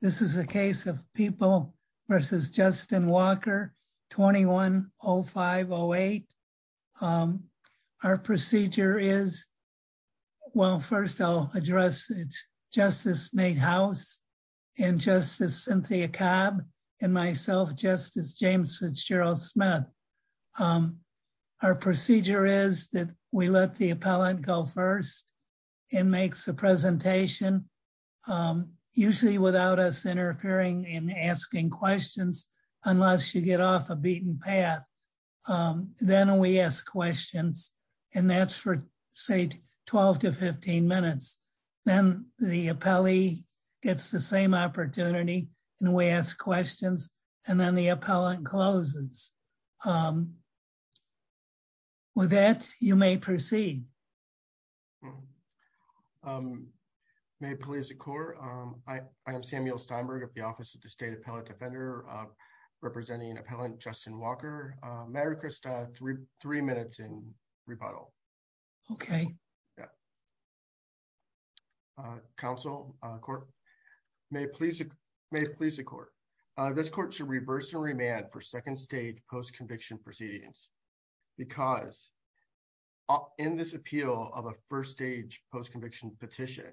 This is a case of People v. Justin Walker 210508. Our procedure is, well first I'll address it's Justice Nate House and Justice Cynthia Cabb and myself Justice James Fitzgerald Smith. Our procedure is that we let the appellant go first and makes a presentation, usually without us interfering in asking questions unless you get off a beaten path. Then we ask questions and that's for say 12 to 15 minutes. Then the appellee gets the same opportunity and we ask questions and then the appellant closes. With that you may proceed. Samuel Steinberg I am Samuel Steinberg of the Office of the State Appellate Defender representing Appellant Justin Walker. Mary Christa, three minutes in rebuttal. Mary Christa Okay. Samuel Steinberg Yeah. Council, Court, may it please the court. This court should reverse and remand for second stage post conviction proceedings because in this appeal of a first stage post conviction petition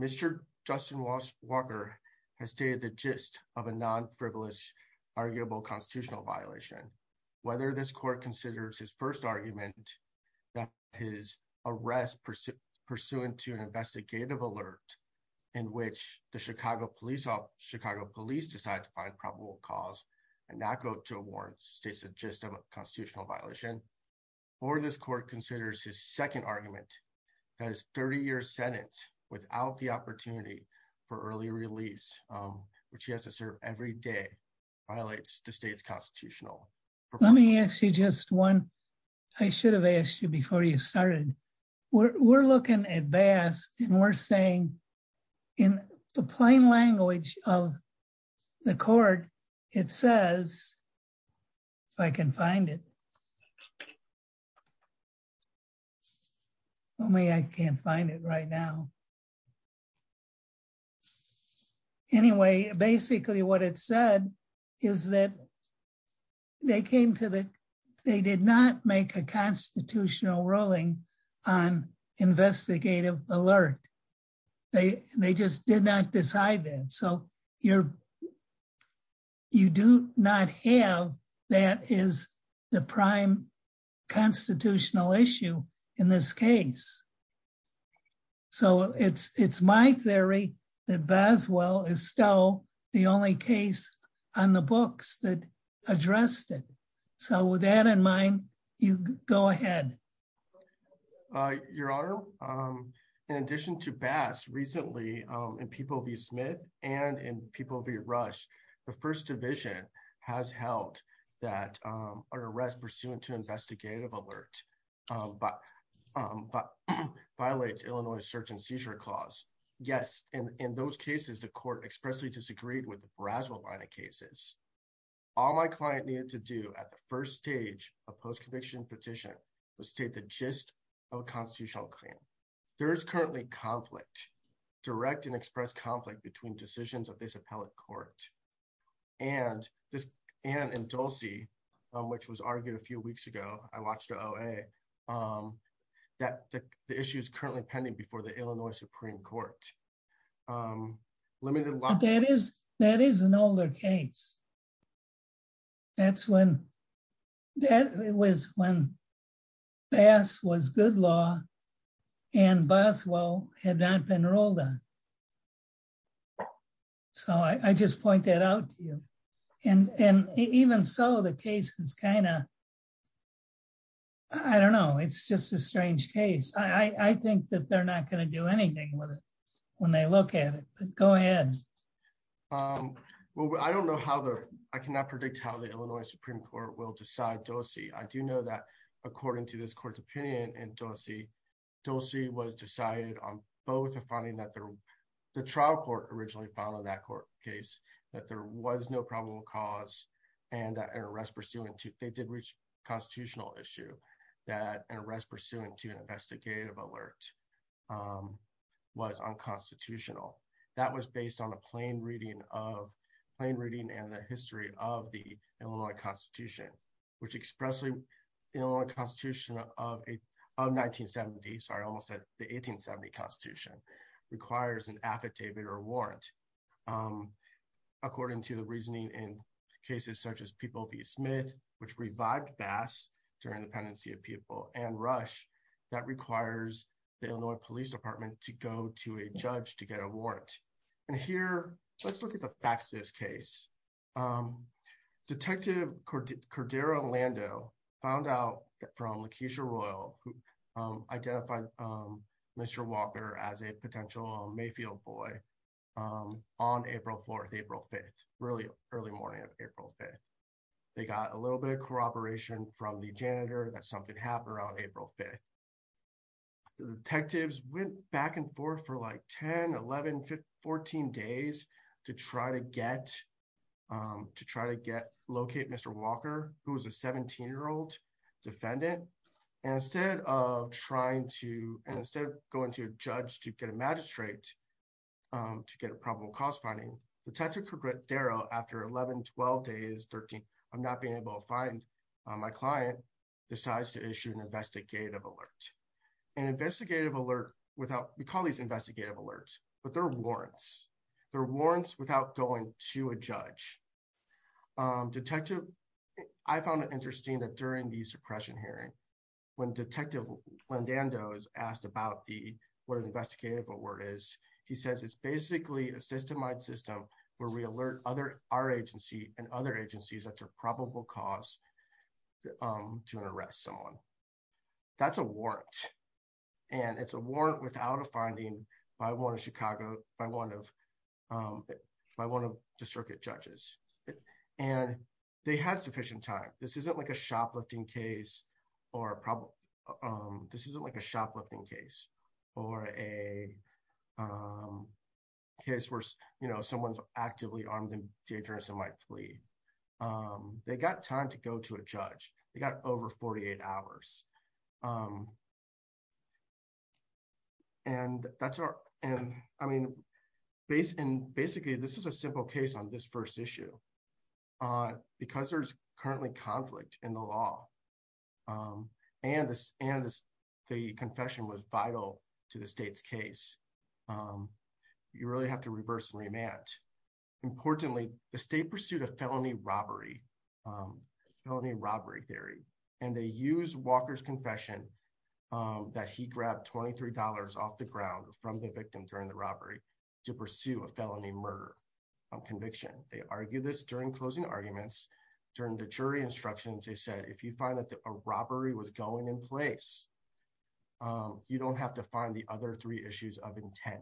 Mr. Justin Walker has stated the gist of a non-frivolous arguable constitutional violation. Whether this court considers his first argument that his arrest pursuant to an investigative alert in which the Chicago Police decided to find probable cause and not go to a warrant states the gist of a constitutional violation or this court considers his second argument that his 30-year sentence without the opportunity for early release which he has to serve every day violates the state's constitutional. Mary Christa Let me ask you just one. I should have asked you before you started. We're looking at Bass and we're saying in the plain language of the court it says, if I can find it. Well, I can't find it right now. Anyway, basically what it said is that they did not make a constitutional ruling on investigative alert. They just did not decide that. So you do not have that is the prime constitutional issue in this case. So it's my theory that Baswell is still the only case on the books that addressed it. So with that in mind, you go ahead. Your Honor, in addition to Bass, recently in People v. Smith and in People v. Rush, the First Division has held that an arrest pursuant to investigative alert violates Illinois search and seizure clause. Yes, in those cases the court expressly disagreed with Baswell cases. All my client needed to do at the first stage of post-conviction petition was state the gist of a constitutional claim. There is currently conflict, direct and express conflict between decisions of this appellate court and this Ann Indulsi, which was argued a few weeks ago, I watched the OA, that the issue is currently pending before the Illinois Supreme Court. That is an older case. That was when Bass was good law and Baswell had not been ruled on. So I just point that out to you. And even so, the case is kind of, I don't know, it's just a strange case. I think that they're not going to do anything with it. When they look at it, go ahead. Well, I don't know how the, I cannot predict how the Illinois Supreme Court will decide Dulce. I do know that according to this court's opinion and Dulce, Dulce was decided on both of finding that the trial court originally followed that court case, that there was no probable cause and that an arrest pursuant to, they did reach constitutional issue, that an arrest pursuant to an investigative alert was unconstitutional. That was based on a plain reading of plain reading and the history of the Illinois Constitution, which expressly, you know, a constitution of a, of 1970, sorry, I almost said the 1870 constitution requires an affidavit or warrant. According to the reasoning in cases such as which revived Bass during the pendency of people and Rush that requires the Illinois police department to go to a judge to get a warrant. And here let's look at the facts of this case. Detective Cordero Lando found out from Lakeisha Royal who identified Mr. Walker as a potential Mayfield boy on April 4th, April 5th, really early morning of April 5th. They got a little bit of corroboration from the janitor that something happened around April 5th. The detectives went back and forth for like 10, 11, 15, 14 days to try to get, to try to get, locate Mr. Walker who was a 17 year old defendant. And instead of trying to, and instead of going to a judge to get a magistrate to get a probable cause finding, Detective Cordero after 11, 12 days, 13, I'm not being able to find my client decides to issue an investigative alert. An investigative alert without, we call these investigative alerts, but they're warrants. They're warrants without going to a judge. Detective, I found it interesting that during the suppression hearing, when Detective Lando is asked about the, what an system where we alert other, our agency and other agencies, that's a probable cause to arrest someone. That's a warrant. And it's a warrant without a finding by one of Chicago, by one of, by one of the circuit judges. And they had sufficient time. This isn't like a shoplifting case or a problem. This isn't like a shoplifting case or a case where, you know, someone's actively armed and dangerous and might flee. They got time to go to a judge. They got over 48 hours. And that's our, and I mean, based in, basically this is a simple case on this first issue on, because there's currently conflict in the law and the, and the confession was vital to the state's case. You really have to reverse and remand. Importantly, the state pursued a felony robbery, felony robbery theory, and they use Walker's confession that he grabbed $23 off the ground from the victim during the robbery to pursue a felony murder conviction. They argue this during closing arguments, during the jury instructions, they said, if you find that a robbery was going in place, you don't have to find the other three issues of intent.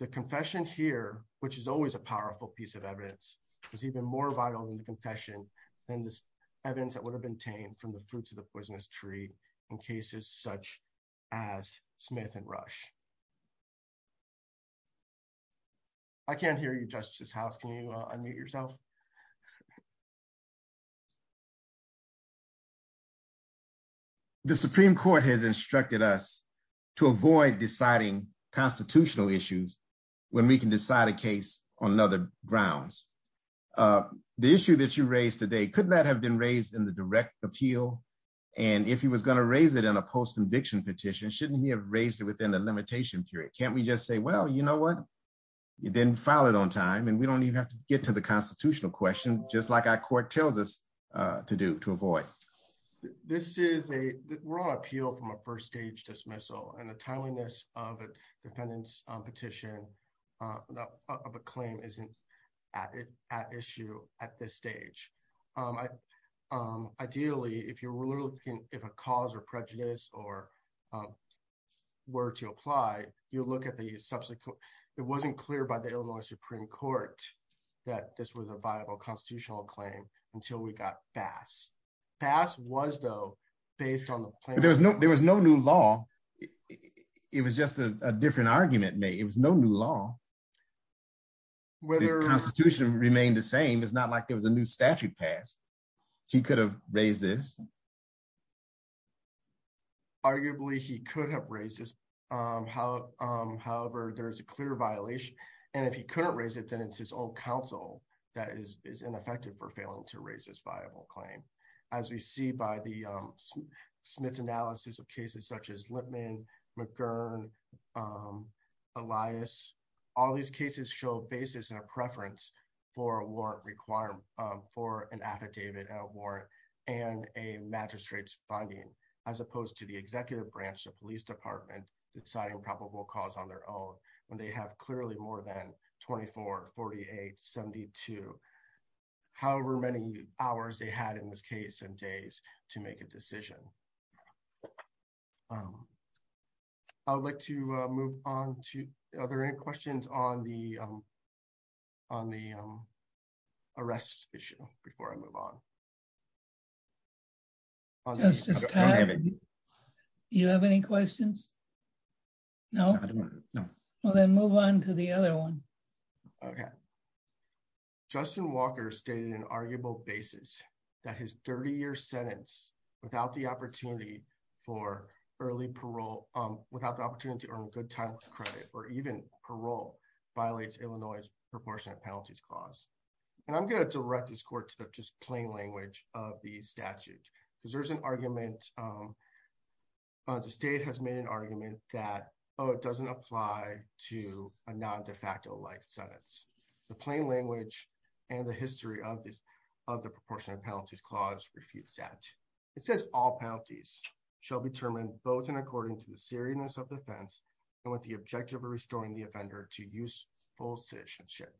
The confession here, which is always a powerful piece of evidence was even more vital than the confession than this evidence that would have been tamed from the fruits of the poisonous tree in cases such as Smith and Rush. I can't hear you, Justice House. Can you unmute yourself? The Supreme Court has instructed us to avoid deciding constitutional issues when we can decide a case on other grounds. The issue that you raised today could not have been raised in direct appeal. And if he was going to raise it in a post-conviction petition, shouldn't he have raised it within a limitation period? Can't we just say, well, you know what, you didn't file it on time and we don't even have to get to the constitutional question, just like our court tells us to do, to avoid. This is a raw appeal from a first stage dismissal and the timeliness of a petition, of a claim isn't at issue at this stage. Ideally, if you're looking, if a cause or prejudice or were to apply, you look at the subsequent, it wasn't clear by the Illinois Supreme Court that this was a viable constitutional claim until we got Bass. Bass was though based on the plan. There was no new law. It was just a different argument made. It was no new law. The constitution remained the same. It's not like there was a new statute passed. He could have raised this. Arguably, he could have raised this. However, there is a clear violation. And if he couldn't raise it, then it's his own counsel that is ineffective for failing to raise this viable claim. As we see by the Smith's analysis of cases such as Lippman, McGurn, Elias, all these cases show basis and a preference for a warrant requirement, for an affidavit warrant and a magistrate's funding as opposed to the executive branch, the police department, deciding probable cause on their own when they have clearly more than 24, 48, 72, however many hours they had in this case and days to make a decision. I would like to move on to other questions on the arrest issue before I move on. Do you have any questions? No. Well, then move on to the other one. Okay. Justin Walker stated an arguable basis that his 30-year sentence without the opportunity for early parole, without the opportunity to earn good time credit or even parole violates Illinois' proportionate penalties clause. And I'm going to direct this court to the just plain language of the statute, because there's an argument, the state has made an argument that, oh, it doesn't apply to a non-de facto life sentence. The plain language and the history of the proportionate penalties clause refutes that. It says all penalties shall be determined both in according to the seriousness of the offense and with the objective of restoring the offender to useful citizenship.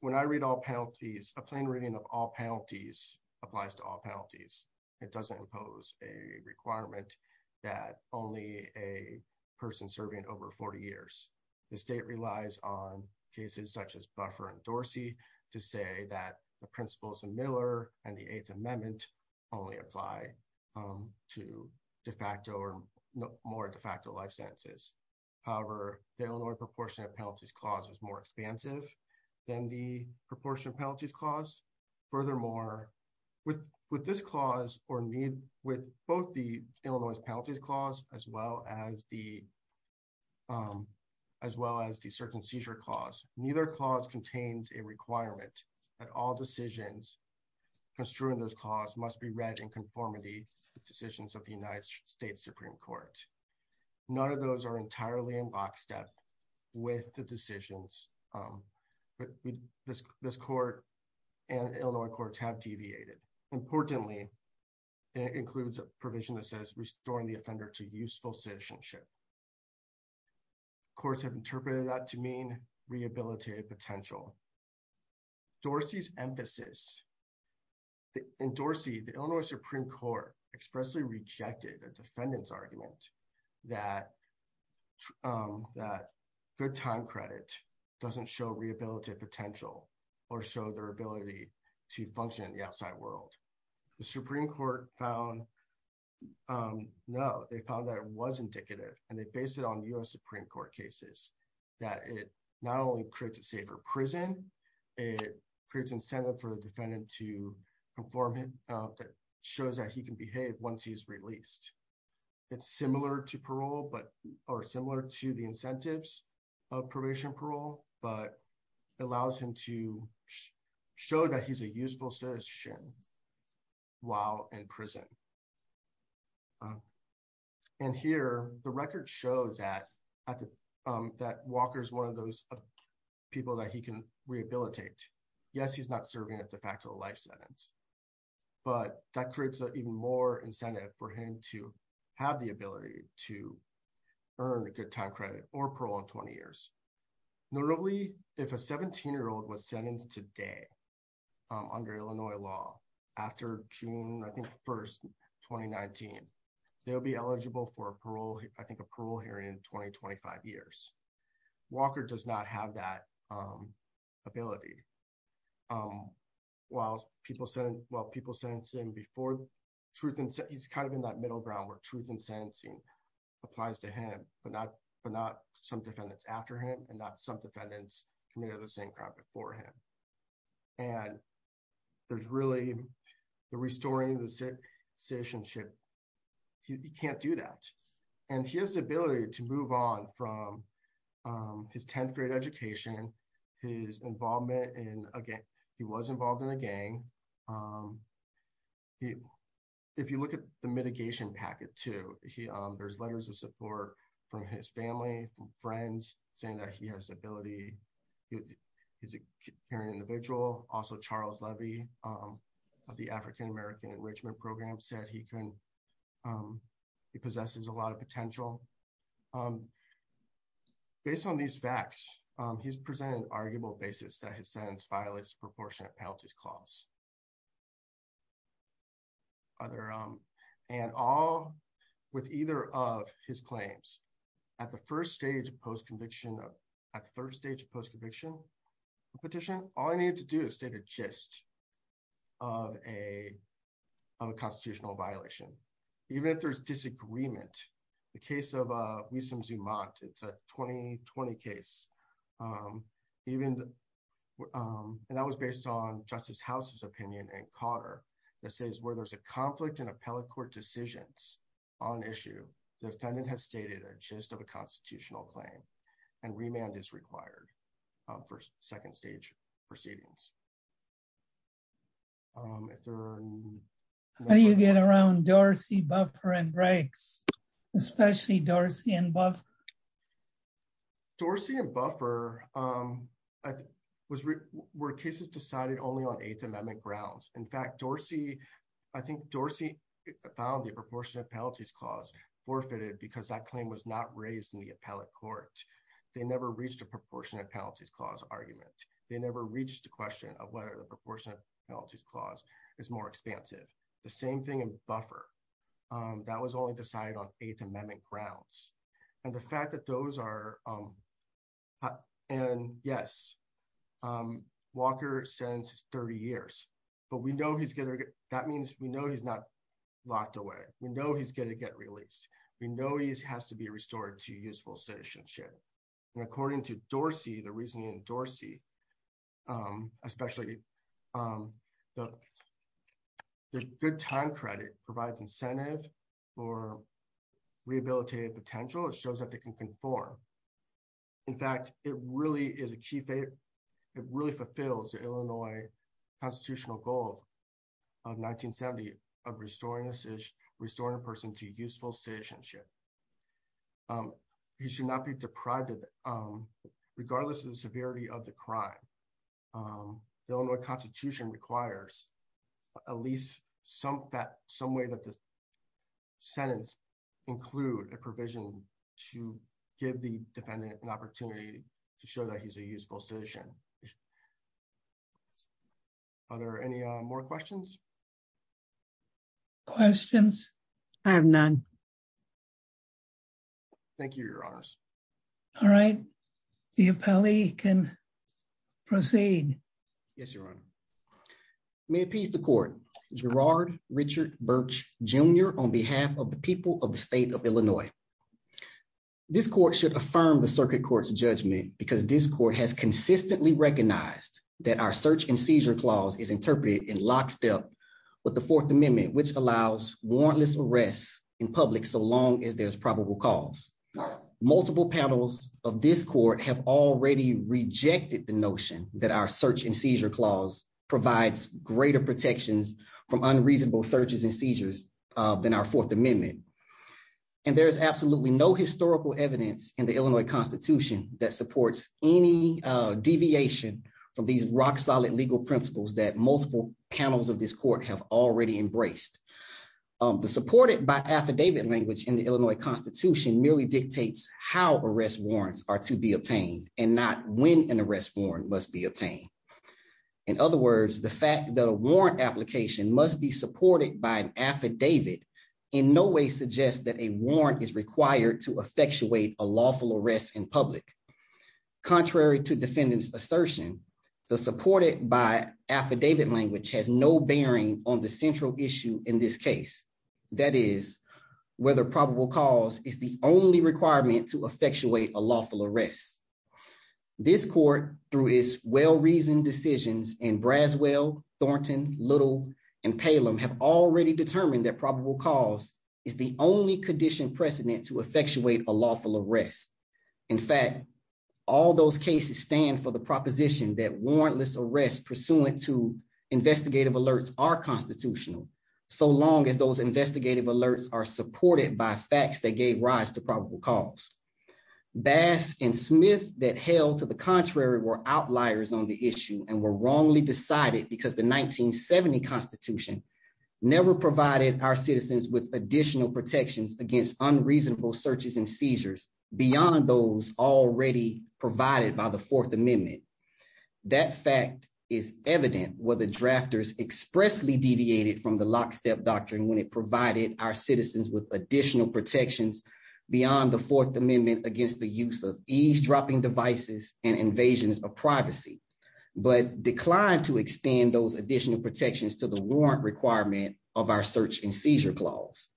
When I read all penalties, a plain reading of all penalties applies to all penalties. It doesn't impose a requirement that only a person serving over 40 years. The state relies on cases such as Buffer and Dorsey to say that the principles of Miller and the Eighth Amendment only apply to de facto or more de facto life sentences. However, the Illinois proportionate penalties clause is more expansive than the proportionate penalties clause. Furthermore, with this clause or with both the Illinois penalties clause as well as the circumcision clause, neither clause contains a requirement that all decisions construed in this clause must be read in conformity with decisions of the United States Supreme Court. None of those are entirely in lockstep with the decisions this court and Illinois courts have deviated. Importantly, it includes a provision that says restoring the offender to useful citizenship. Courts have interpreted that to mean rehabilitative potential. Dorsey's emphasis in Dorsey, the Illinois Supreme Court expressly rejected a defendant's argument that that good time credit doesn't show rehabilitative potential or show their ability to function in the They based it on U.S. Supreme Court cases that it not only creates a safer prison, it creates incentive for the defendant to perform that shows that he can behave once he's released. It's similar to parole but or similar to the incentives of probation parole but allows him to show that he's a useful citizen while in prison. And here, the record shows that Walker is one of those people that he can rehabilitate. Yes, he's not serving a de facto life sentence, but that creates even more incentive for him to have the ability to earn a good time credit or parole in 20 years. Notably, if a 17-year-old was sentenced today under Illinois law after June 1, 2019, they'll be eligible for a parole hearing in 2025 years. Walker does not have that ability. He's kind of in that middle ground where truth in sentencing applies to him but not some defendants after him and not some defendants committed the same crime before him. And there's really the restoring the citizenship. He can't do that. And he has the ability to move on from his 10th grade education, his involvement in a gang. He was involved in a gang. If you look at the mitigation packet too, there's letters of support from his family and friends saying that he has the ability. He's a caring individual. Also, Charles Levy of the African American Enrichment Program said he possesses a lot of potential. Based on these facts, he's presented an arguable basis that his sentence violates proportionate penalties clause. With either of his claims, at the third stage of post-conviction petition, all I needed to do is state a gist of a constitutional violation. Even if there's Justice House's opinion, where there's a conflict in appellate court decisions on issue, defendant has stated a gist of a constitutional claim and remand is required for second stage proceedings. How do you get around Dorsey, Buffer, and Briggs, especially Dorsey and Buffer? Dorsey and Buffer were cases decided only on Eighth Amendment grounds. In fact, Dorsey, I think Dorsey found the proportionate penalties clause forfeited because that claim was not raised in the appellate court. They never reached a proportionate penalties clause argument. They never reached a question of whether the proportionate penalties clause is more expansive. The same thing in Buffer. That was only decided on Eighth Amendment grounds. Yes, Walker sentenced 30 years. That means we know he's not locked away. We know he's going to get released. We know he has to be restored to useful citizenship. According to Dorsey, the reasoning in Dorsey, especially the good time credit provides incentive for rehabilitative potential. It shows that they can conform. In fact, it really fulfills the Illinois constitutional goal of 1970 of restoring a person to useful citizenship. He should not be deprived, regardless of the severity of the crime. The Illinois Constitution requires at least some way that this sentence include a provision to give the defendant an opportunity to show that he's a useful citizen. Are there any more questions? Questions? I have none. Thank you, Your Honors. All right. The appellee can proceed. Yes, Your Honor. May it please the court. Gerard Richard Birch Jr. on behalf of the people of the state of Illinois. This court should affirm the circuit court's judgment because this court has consistently recognized that our search and seizure clause is interpreted in lockstep with the Fourth Amendment, which allows warrantless arrests in public so long as there's probable cause. Multiple panels of this court have already rejected the notion that our search and seizure clause provides greater protections from unreasonable searches and seizures than our Fourth Amendment. And there is absolutely no historical evidence in the Illinois Constitution that supports any deviation from these rock-solid legal principles that multiple panels of this court have already embraced. The supported by affidavit language in the Illinois Constitution merely dictates how arrest warrants are to be obtained and not when an arrest warrant must be obtained. In other words, the fact that a warrant application must be supported by an Contrary to defendant's assertion, the supported by affidavit language has no bearing on the central issue in this case, that is, whether probable cause is the only requirement to effectuate a lawful arrest. This court, through its well-reasoned decisions in Braswell, Thornton, Little, and Palem, have already determined that probable cause is the only condition precedent to effectuate a lawful arrest. In fact, all those cases stand for the proposition that warrantless arrests pursuant to investigative alerts are constitutional, so long as those investigative alerts are supported by facts that gave rise to probable cause. Bass and Smith that held to the contrary were outliers on the issue and were wrongly decided because the 1970 Constitution never provided our citizens with additional protections against unreasonable searches and seizures beyond those already provided by the Fourth Amendment. That fact is evident where the drafters expressly deviated from the lockstep doctrine when it provided our citizens with additional protections beyond the Fourth Amendment against the use of eavesdropping devices and of our search and seizure clause.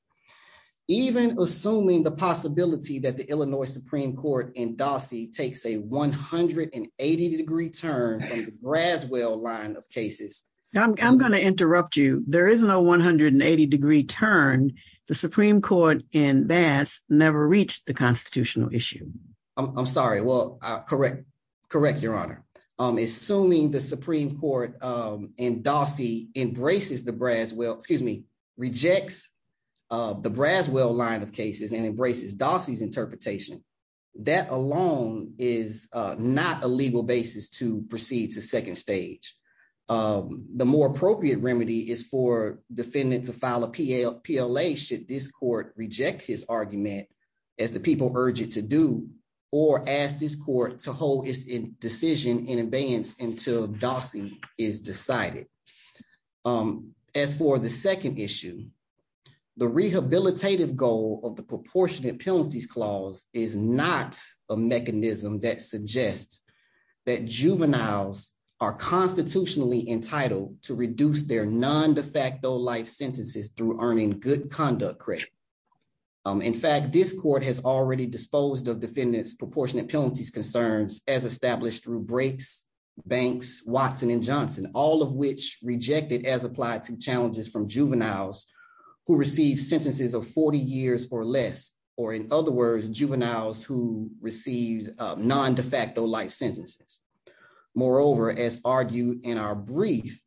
Even assuming the possibility that the Illinois Supreme Court in Dossie takes a 180-degree turn from the Braswell line of cases... I'm going to interrupt you. There is no 180-degree turn. The Supreme Court in Bass never reached the constitutional issue. I'm sorry. Well, correct. Correct, Your Honor. Assuming the Supreme Court in Dossie embraces the Braswell... excuse me, rejects the Braswell line of cases and embraces Dossie's interpretation, that alone is not a legal basis to proceed to second stage. The more appropriate remedy is for defendant to file a PLA should this court reject his argument as the people urge it to do or ask this court to hold its decision in advance until Dossie is decided. As for the second issue, the rehabilitative goal of the proportionate penalties clause is not a mechanism that suggests that juveniles are constitutionally entitled to reduce their non-de facto life sentences through earning good conduct credit. In fact, this court has already disposed of defendants' proportionate penalties concerns as established through Brakes, Banks, Watson, and Johnson, all of which rejected as applied to challenges from juveniles who received sentences of 40 years or less, or in other words, juveniles who received non-de facto life sentences. Moreover, as argued in our brief,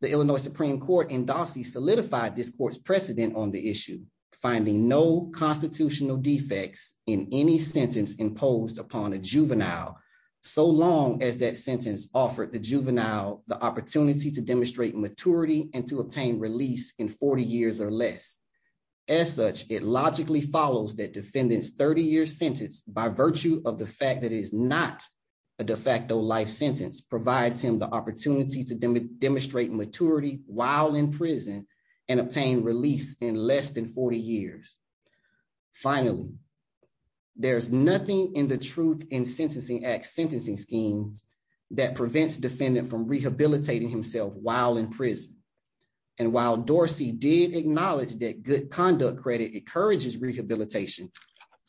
the Illinois Supreme Court in Dossie solidified this court's precedent on the issue, finding no constitutional defects in any sentence imposed upon a juvenile so long as that sentence offered the juvenile the opportunity to demonstrate maturity and to obtain release in 40 years or less. As such, it logically follows that defendant's 30-year sentence, by virtue of the fact that it is not a de facto life sentence, provides him the opportunity to demonstrate maturity while in prison. There's nothing in the Truth in Sentencing Act sentencing schemes that prevents defendant from rehabilitating himself while in prison. And while Dossie did acknowledge that good conduct credit encourages rehabilitation,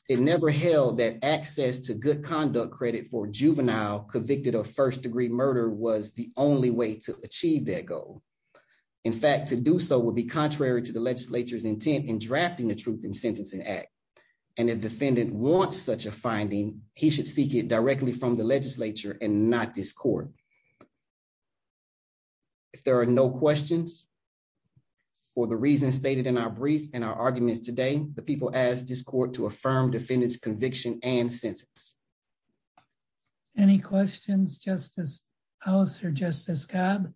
it never held that access to good conduct credit for juvenile convicted of first-degree murder was the only way to achieve that goal. In fact, to do so would be and if defendant wants such a finding, he should seek it directly from the legislature and not this court. If there are no questions for the reasons stated in our brief and our arguments today, the people ask this court to affirm defendant's conviction and sentence. Any questions, Justice House or Justice Cobb?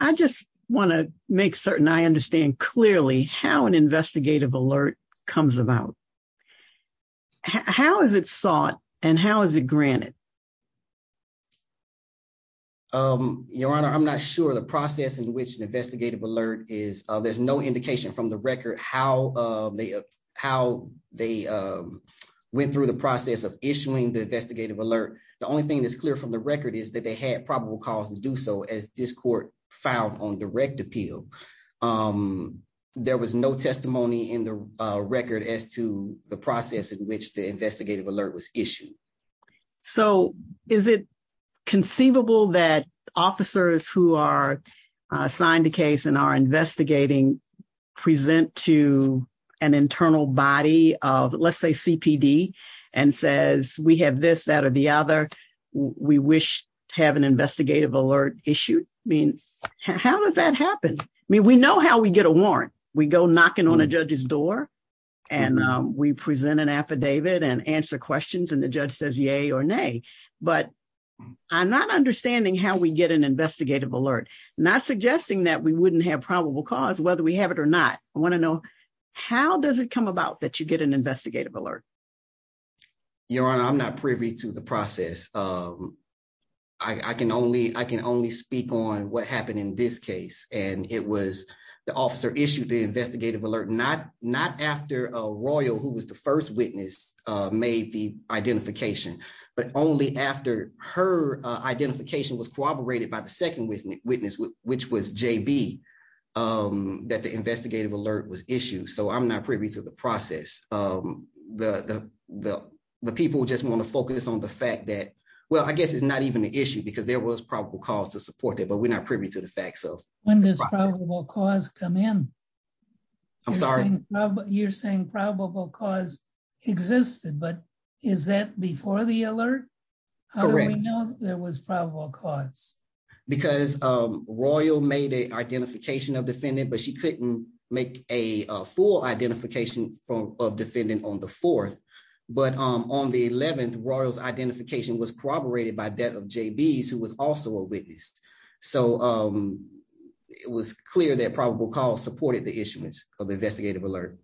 I just want to make certain I understand clearly how an investigative alert comes about. How is it sought and how is it granted? Your Honor, I'm not sure the process in which an investigative alert is. There's no indication from the record how they went through the process of issuing the investigative alert. The only thing that's clear from the record is that they had probable cause to do so as this appeal. There was no testimony in the record as to the process in which the investigative alert was issued. So is it conceivable that officers who are assigned a case and are investigating present to an internal body of let's say CPD and says we have this that or the other, we wish to have an investigative alert issued? I mean, how does that happen? I mean, we know how we get a warrant. We go knocking on a judge's door and we present an affidavit and answer questions and the judge says yay or nay. But I'm not understanding how we get an investigative alert, not suggesting that we wouldn't have probable cause whether we have it or not. I want to know how does it come about that you get an investigative alert? Your Honor, I'm not privy to the process. I can only speak on what happened in this case. And it was the officer issued the investigative alert not after a royal who was the first witness made the identification, but only after her identification was corroborated by the second witness, which was JB, that the investigative alert was issued. So I'm not privy to the process. The people just want to focus on the fact that, well, I guess it's not even an issue because there was probable cause to support that, but we're not privy to the fact so. When does probable cause come in? I'm sorry? You're saying probable cause existed, but is that before the alert? Correct. How do we know there was probable cause? Because royal made an identification of defendant, but she couldn't make a full identification of defendant on the fourth. But on the 11th, royal's identification was corroborated by that of JB's, who was also a witness. So it was clear that probable cause supported the issuance of the investigative alert.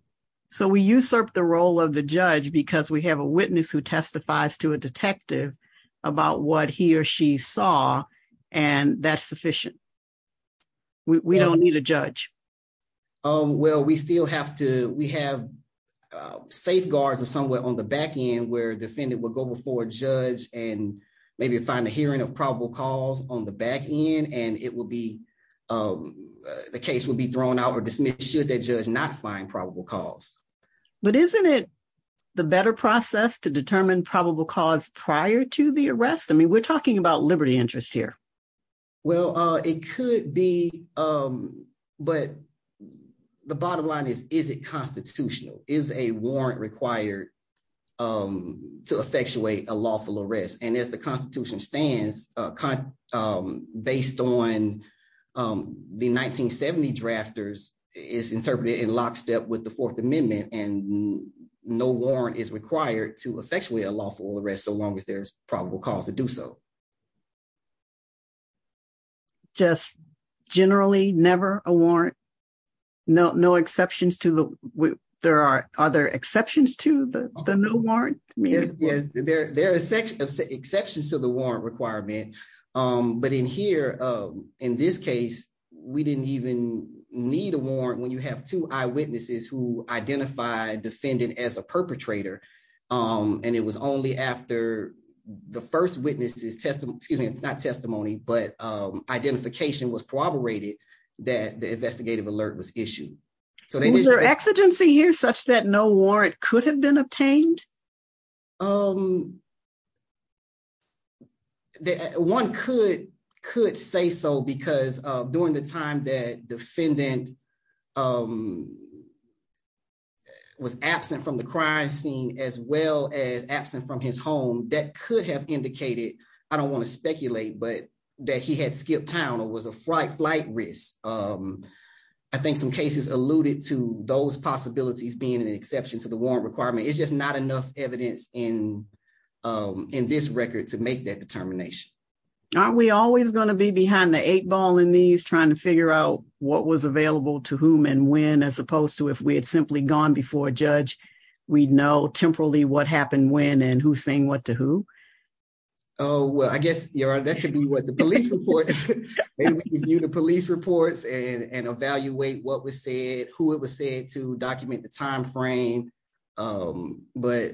So we usurp the role of the judge because we have a witness who testifies to a detective about what he or she saw, and that's sufficient. We don't need a judge. Well, we still have to, we have safeguards or somewhere on the back end where defendant will go before a judge and maybe find a hearing of probable cause on the back end, and it will be, the case will be thrown out or dismissed should that judge not find probable cause. But isn't it the better process to determine probable cause prior to the arrest? I mean, we're talking about liberty interests here. Well, it could be, but the bottom line is, is it constitutional? Is a warrant required to effectuate a lawful arrest? And as the constitution stands, based on the 1970 drafters, it's interpreted in lockstep with the fourth amendment, and no warrant is required to effectuate a lawful arrest so long as there's probable cause to do so. Just generally never a warrant? No exceptions to the, there are, are there exceptions to the warrant requirement. But in here, in this case, we didn't even need a warrant when you have two eyewitnesses who identified defendant as a perpetrator. And it was only after the first witness's testimony, excuse me, not testimony, but identification was corroborated that the investigative alert was issued. Is there exigency here such that no warrant could have been obtained? One could say so because during the time that defendant was absent from the crime scene, as well as absent from his home, that could have indicated, I don't want to speculate, but that he had skipped town or was a flight risk. I think some cases alluded to those possibilities being an exception to the warrant requirement. It's just not enough evidence in this record to make that determination. Aren't we always going to be behind the eight ball in these trying to figure out what was available to whom and when, as opposed to if we had simply gone before a judge, we'd know temporally what happened when and who's saying what to who? Oh, well, I guess, Your Honor, that could be what the police report, maybe we can view the police reports and evaluate what was said, who it was said to document the but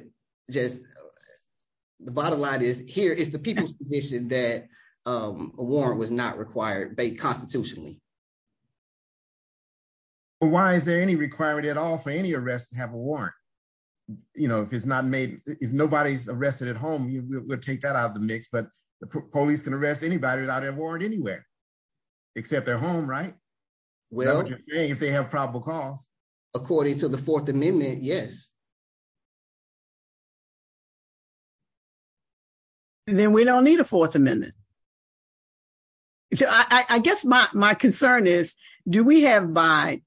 just the bottom line is here is the people's position that a warrant was not required constitutionally. Why is there any requirement at all for any arrest to have a warrant? You know, if it's not made, if nobody's arrested at home, you would take that out of the mix, but the police can arrest anybody without a warrant anywhere, except their home, right? Well, if they have probable cause, according to the Fourth Amendment, yes. Then we don't need a Fourth Amendment. I guess my concern is, do we have by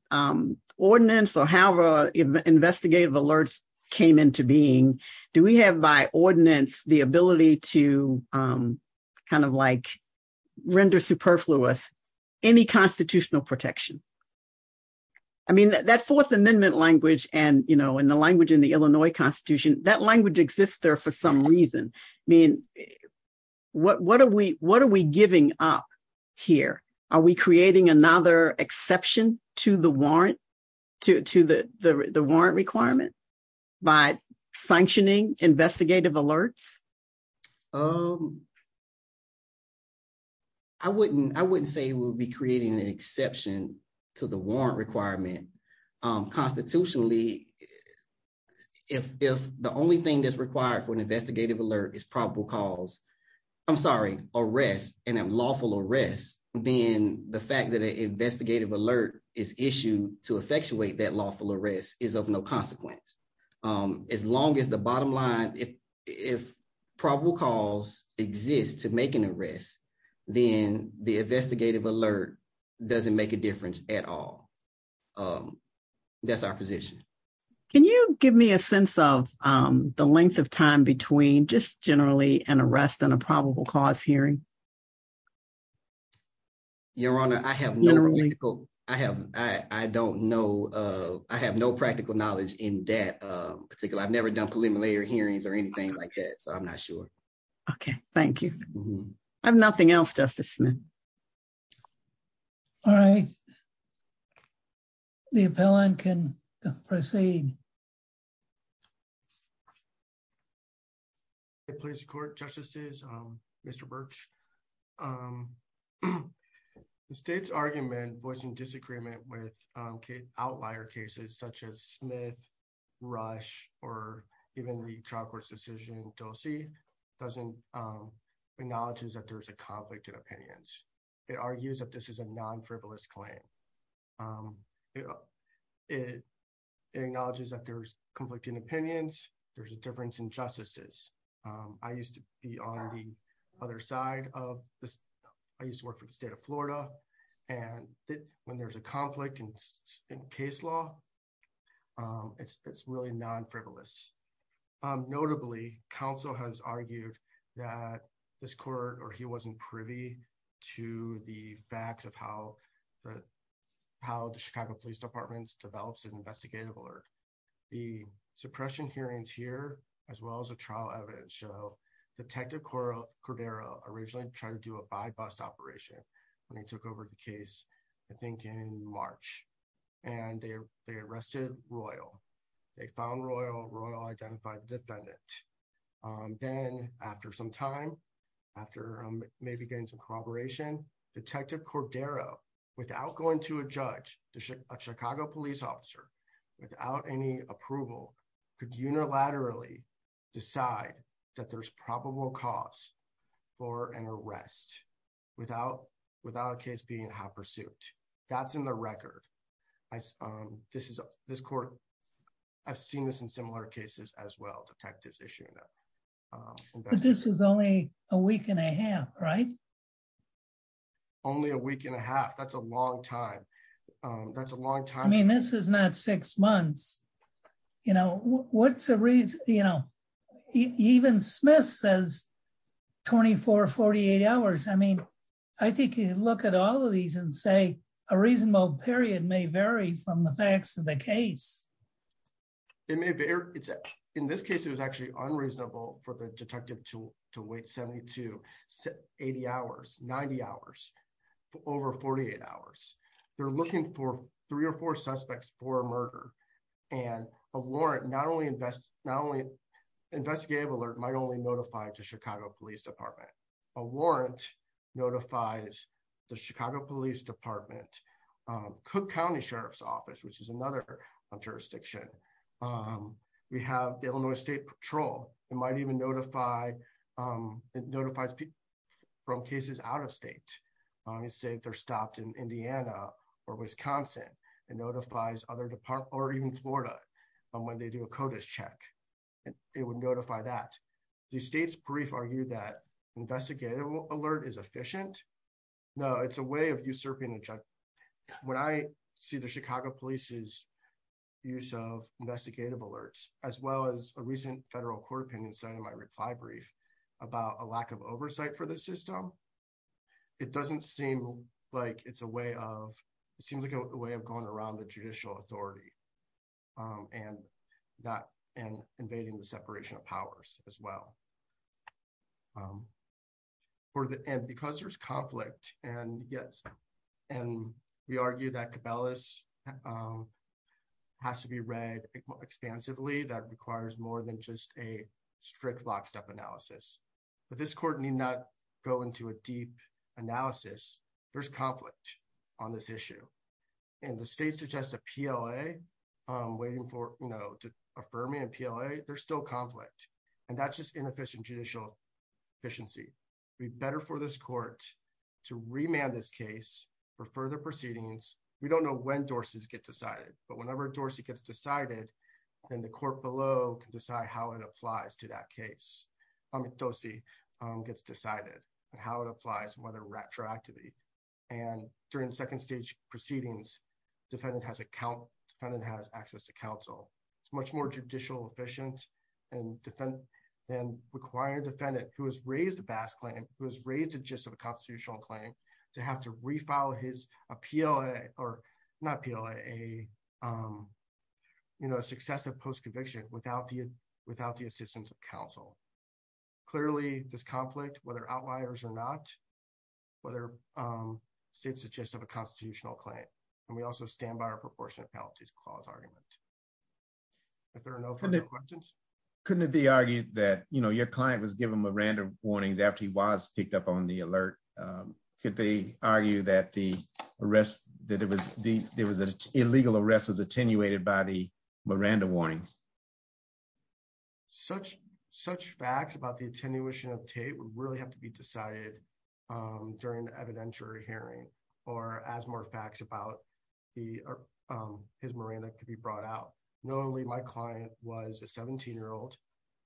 ordinance or however investigative alerts came into being, do we have by ordinance the ability to kind of like superfluous any constitutional protection? I mean, that Fourth Amendment language and, you know, in the language in the Illinois Constitution, that language exists there for some reason. I mean, what are we giving up here? Are we creating another exception to the warrant requirement by sanctioning investigative alerts? Um, I wouldn't, I wouldn't say we'll be creating an exception to the warrant requirement. Constitutionally, if the only thing that's required for an investigative alert is probable cause, I'm sorry, arrest and a lawful arrest, then the fact that an investigative alert is issued to probable cause exists to make an arrest, then the investigative alert doesn't make a difference at all. Um, that's our position. Can you give me a sense of, um, the length of time between just generally an arrest and a probable cause hearing? Your Honor, I have no, I have, I don't know. Uh, I have no practical knowledge in that, particularly. I've never done preliminary hearings or anything like that, so I'm not sure. Okay. Thank you. I have nothing else, Justice Smith. All right. The appellant can proceed. It please court justices. Um, Mr. Birch, um, the state's argument was in disagreement with, um, outlier cases such as Smith, Rush, or even the trial court's decision in Dulce doesn't, um, acknowledges that there's a conflict in opinions. It argues that this is a non-frivolous claim. Um, it, it acknowledges that there's conflict in opinions. There's a difference in justices. I used to be on the other side of this. I used to work for the state of Florida, and when there's a conflict in, in case law, um, it's, it's really non-frivolous. Um, notably, counsel has argued that this court, or he wasn't privy to the facts of how the, how the Chicago Police Department develops an investigative alert. The suppression hearings here, as well as the trial evidence show Detective Coro, Cordero originally tried to do a by-bust operation when he took over the case, I think in March, and they, they arrested Royal. They found Royal, Royal identified the defendant. Um, then after some time, after maybe getting some cooperation, Detective Cordero, without going to a judge, a Chicago police officer, without any approval, could unilaterally decide that there's probable cause for an arrest without, without a case being half-pursued. That's in the record. I, um, this is, this court, I've seen this in similar cases as well, detectives issuing that. But this was only a week and a half, right? Only a week and a half. That's a long time. Um, that's a long time. I mean, this is not six months. You know, what's a reason, you know, even Smith says 24, 48 hours. I mean, I think you look at all of these and say a reasonable period may vary from the facts of the case. It may vary. It's, in this case, it was actually unreasonable for the detective to, to wait 72, 80 hours, 90 hours, over 48 hours. They're looking for three or four suspects for murder. And a warrant, not only invest, not only investigative alert, might only notify to Chicago police department. A warrant notifies the Chicago police department, um, Cook County Sheriff's office, which is another jurisdiction. Um, we have the Illinois state patrol. It might even notify, um, it notifies people from cases out of state. Um, let's say they're stopped in or even Florida. And when they do a CODIS check, it would notify that the state's brief argued that investigative alert is efficient. No, it's a way of usurping. When I see the Chicago police's use of investigative alerts, as well as a recent federal court opinion side of my reply brief about a lack of oversight for the system, it doesn't seem like it's a way of, it seems like a um, and that, and invading the separation of powers as well. Um, for the, and because there's conflict and yes, and we argue that Cabela's, um, has to be read expansively. That requires more than just a strict lockstep analysis, but this court need not go into a deep analysis. There's on this issue. And the state suggests a PLA, um, waiting for, you know, to affirming a PLA, there's still conflict and that's just inefficient judicial efficiency. We better for this court to remand this case for further proceedings. We don't know when Dorsey's get decided, but whenever Dorsey gets decided, then the court below can decide how it applies to that case. I mean, Dorsey gets decided and how it applies, whether retroactively and during second stage proceedings, defendant has account, defendant has access to counsel. It's much more judicial efficient and defend and require defendant who has raised a bass claim, who has raised a gist of a constitutional claim to have to refile his appeal or not appeal a, um, you know, clearly this conflict, whether outliers or not, whether, um, states suggest of a constitutional claim. And we also stand by our proportionate penalties clause argument. If there are no couldn't be argued that, you know, your client was given Miranda warnings after he was picked up on the alert. Um, could they argue that the arrest that it was the, there was an illegal rest was attenuated by the Miranda warnings, such, such facts about the attenuation of tape would really have to be decided, um, during the evidentiary hearing or as more facts about the, um, his Miranda could be brought out. Notably my client was a 17 year old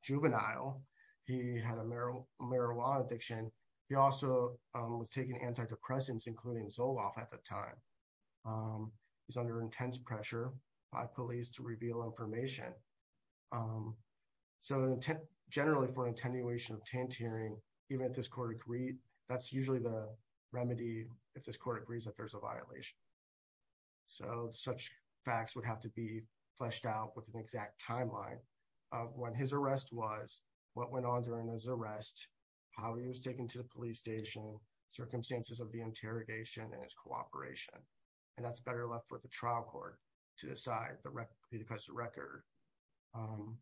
juvenile. He had a Merrill marijuana addiction. He also was taking antidepressants, including Zoloft at the time. Um, it was under intense pressure by police to reveal information. Um, so generally for attenuation of taint hearing, even if this court agreed, that's usually the remedy. If this court agrees that there's a violation. So such facts would have to be fleshed out with an exact timeline when his arrest was what went on during his arrest, how he was taken to the police station circumstances of the interrogation and his cooperation. And that's better left for the trial court to decide the record because the record, um,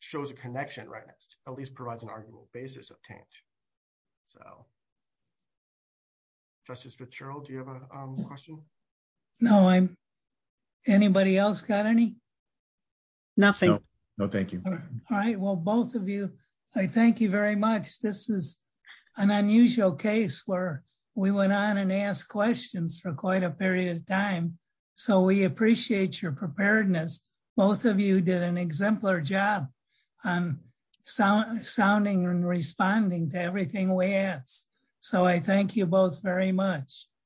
shows a connection, right? At least provides an arguable basis of taint. So justice Fitzgerald, do you have a question? No, I'm anybody else got any nothing? No, thank you. All right. Well, both of you, I thank you very much. This is an unusual case where we went on and ask questions for quite a period of time. So we appreciate your preparedness. Both of you did an exemplar job, um, sound sounding and responding to everything we asked. So I thank you both very much.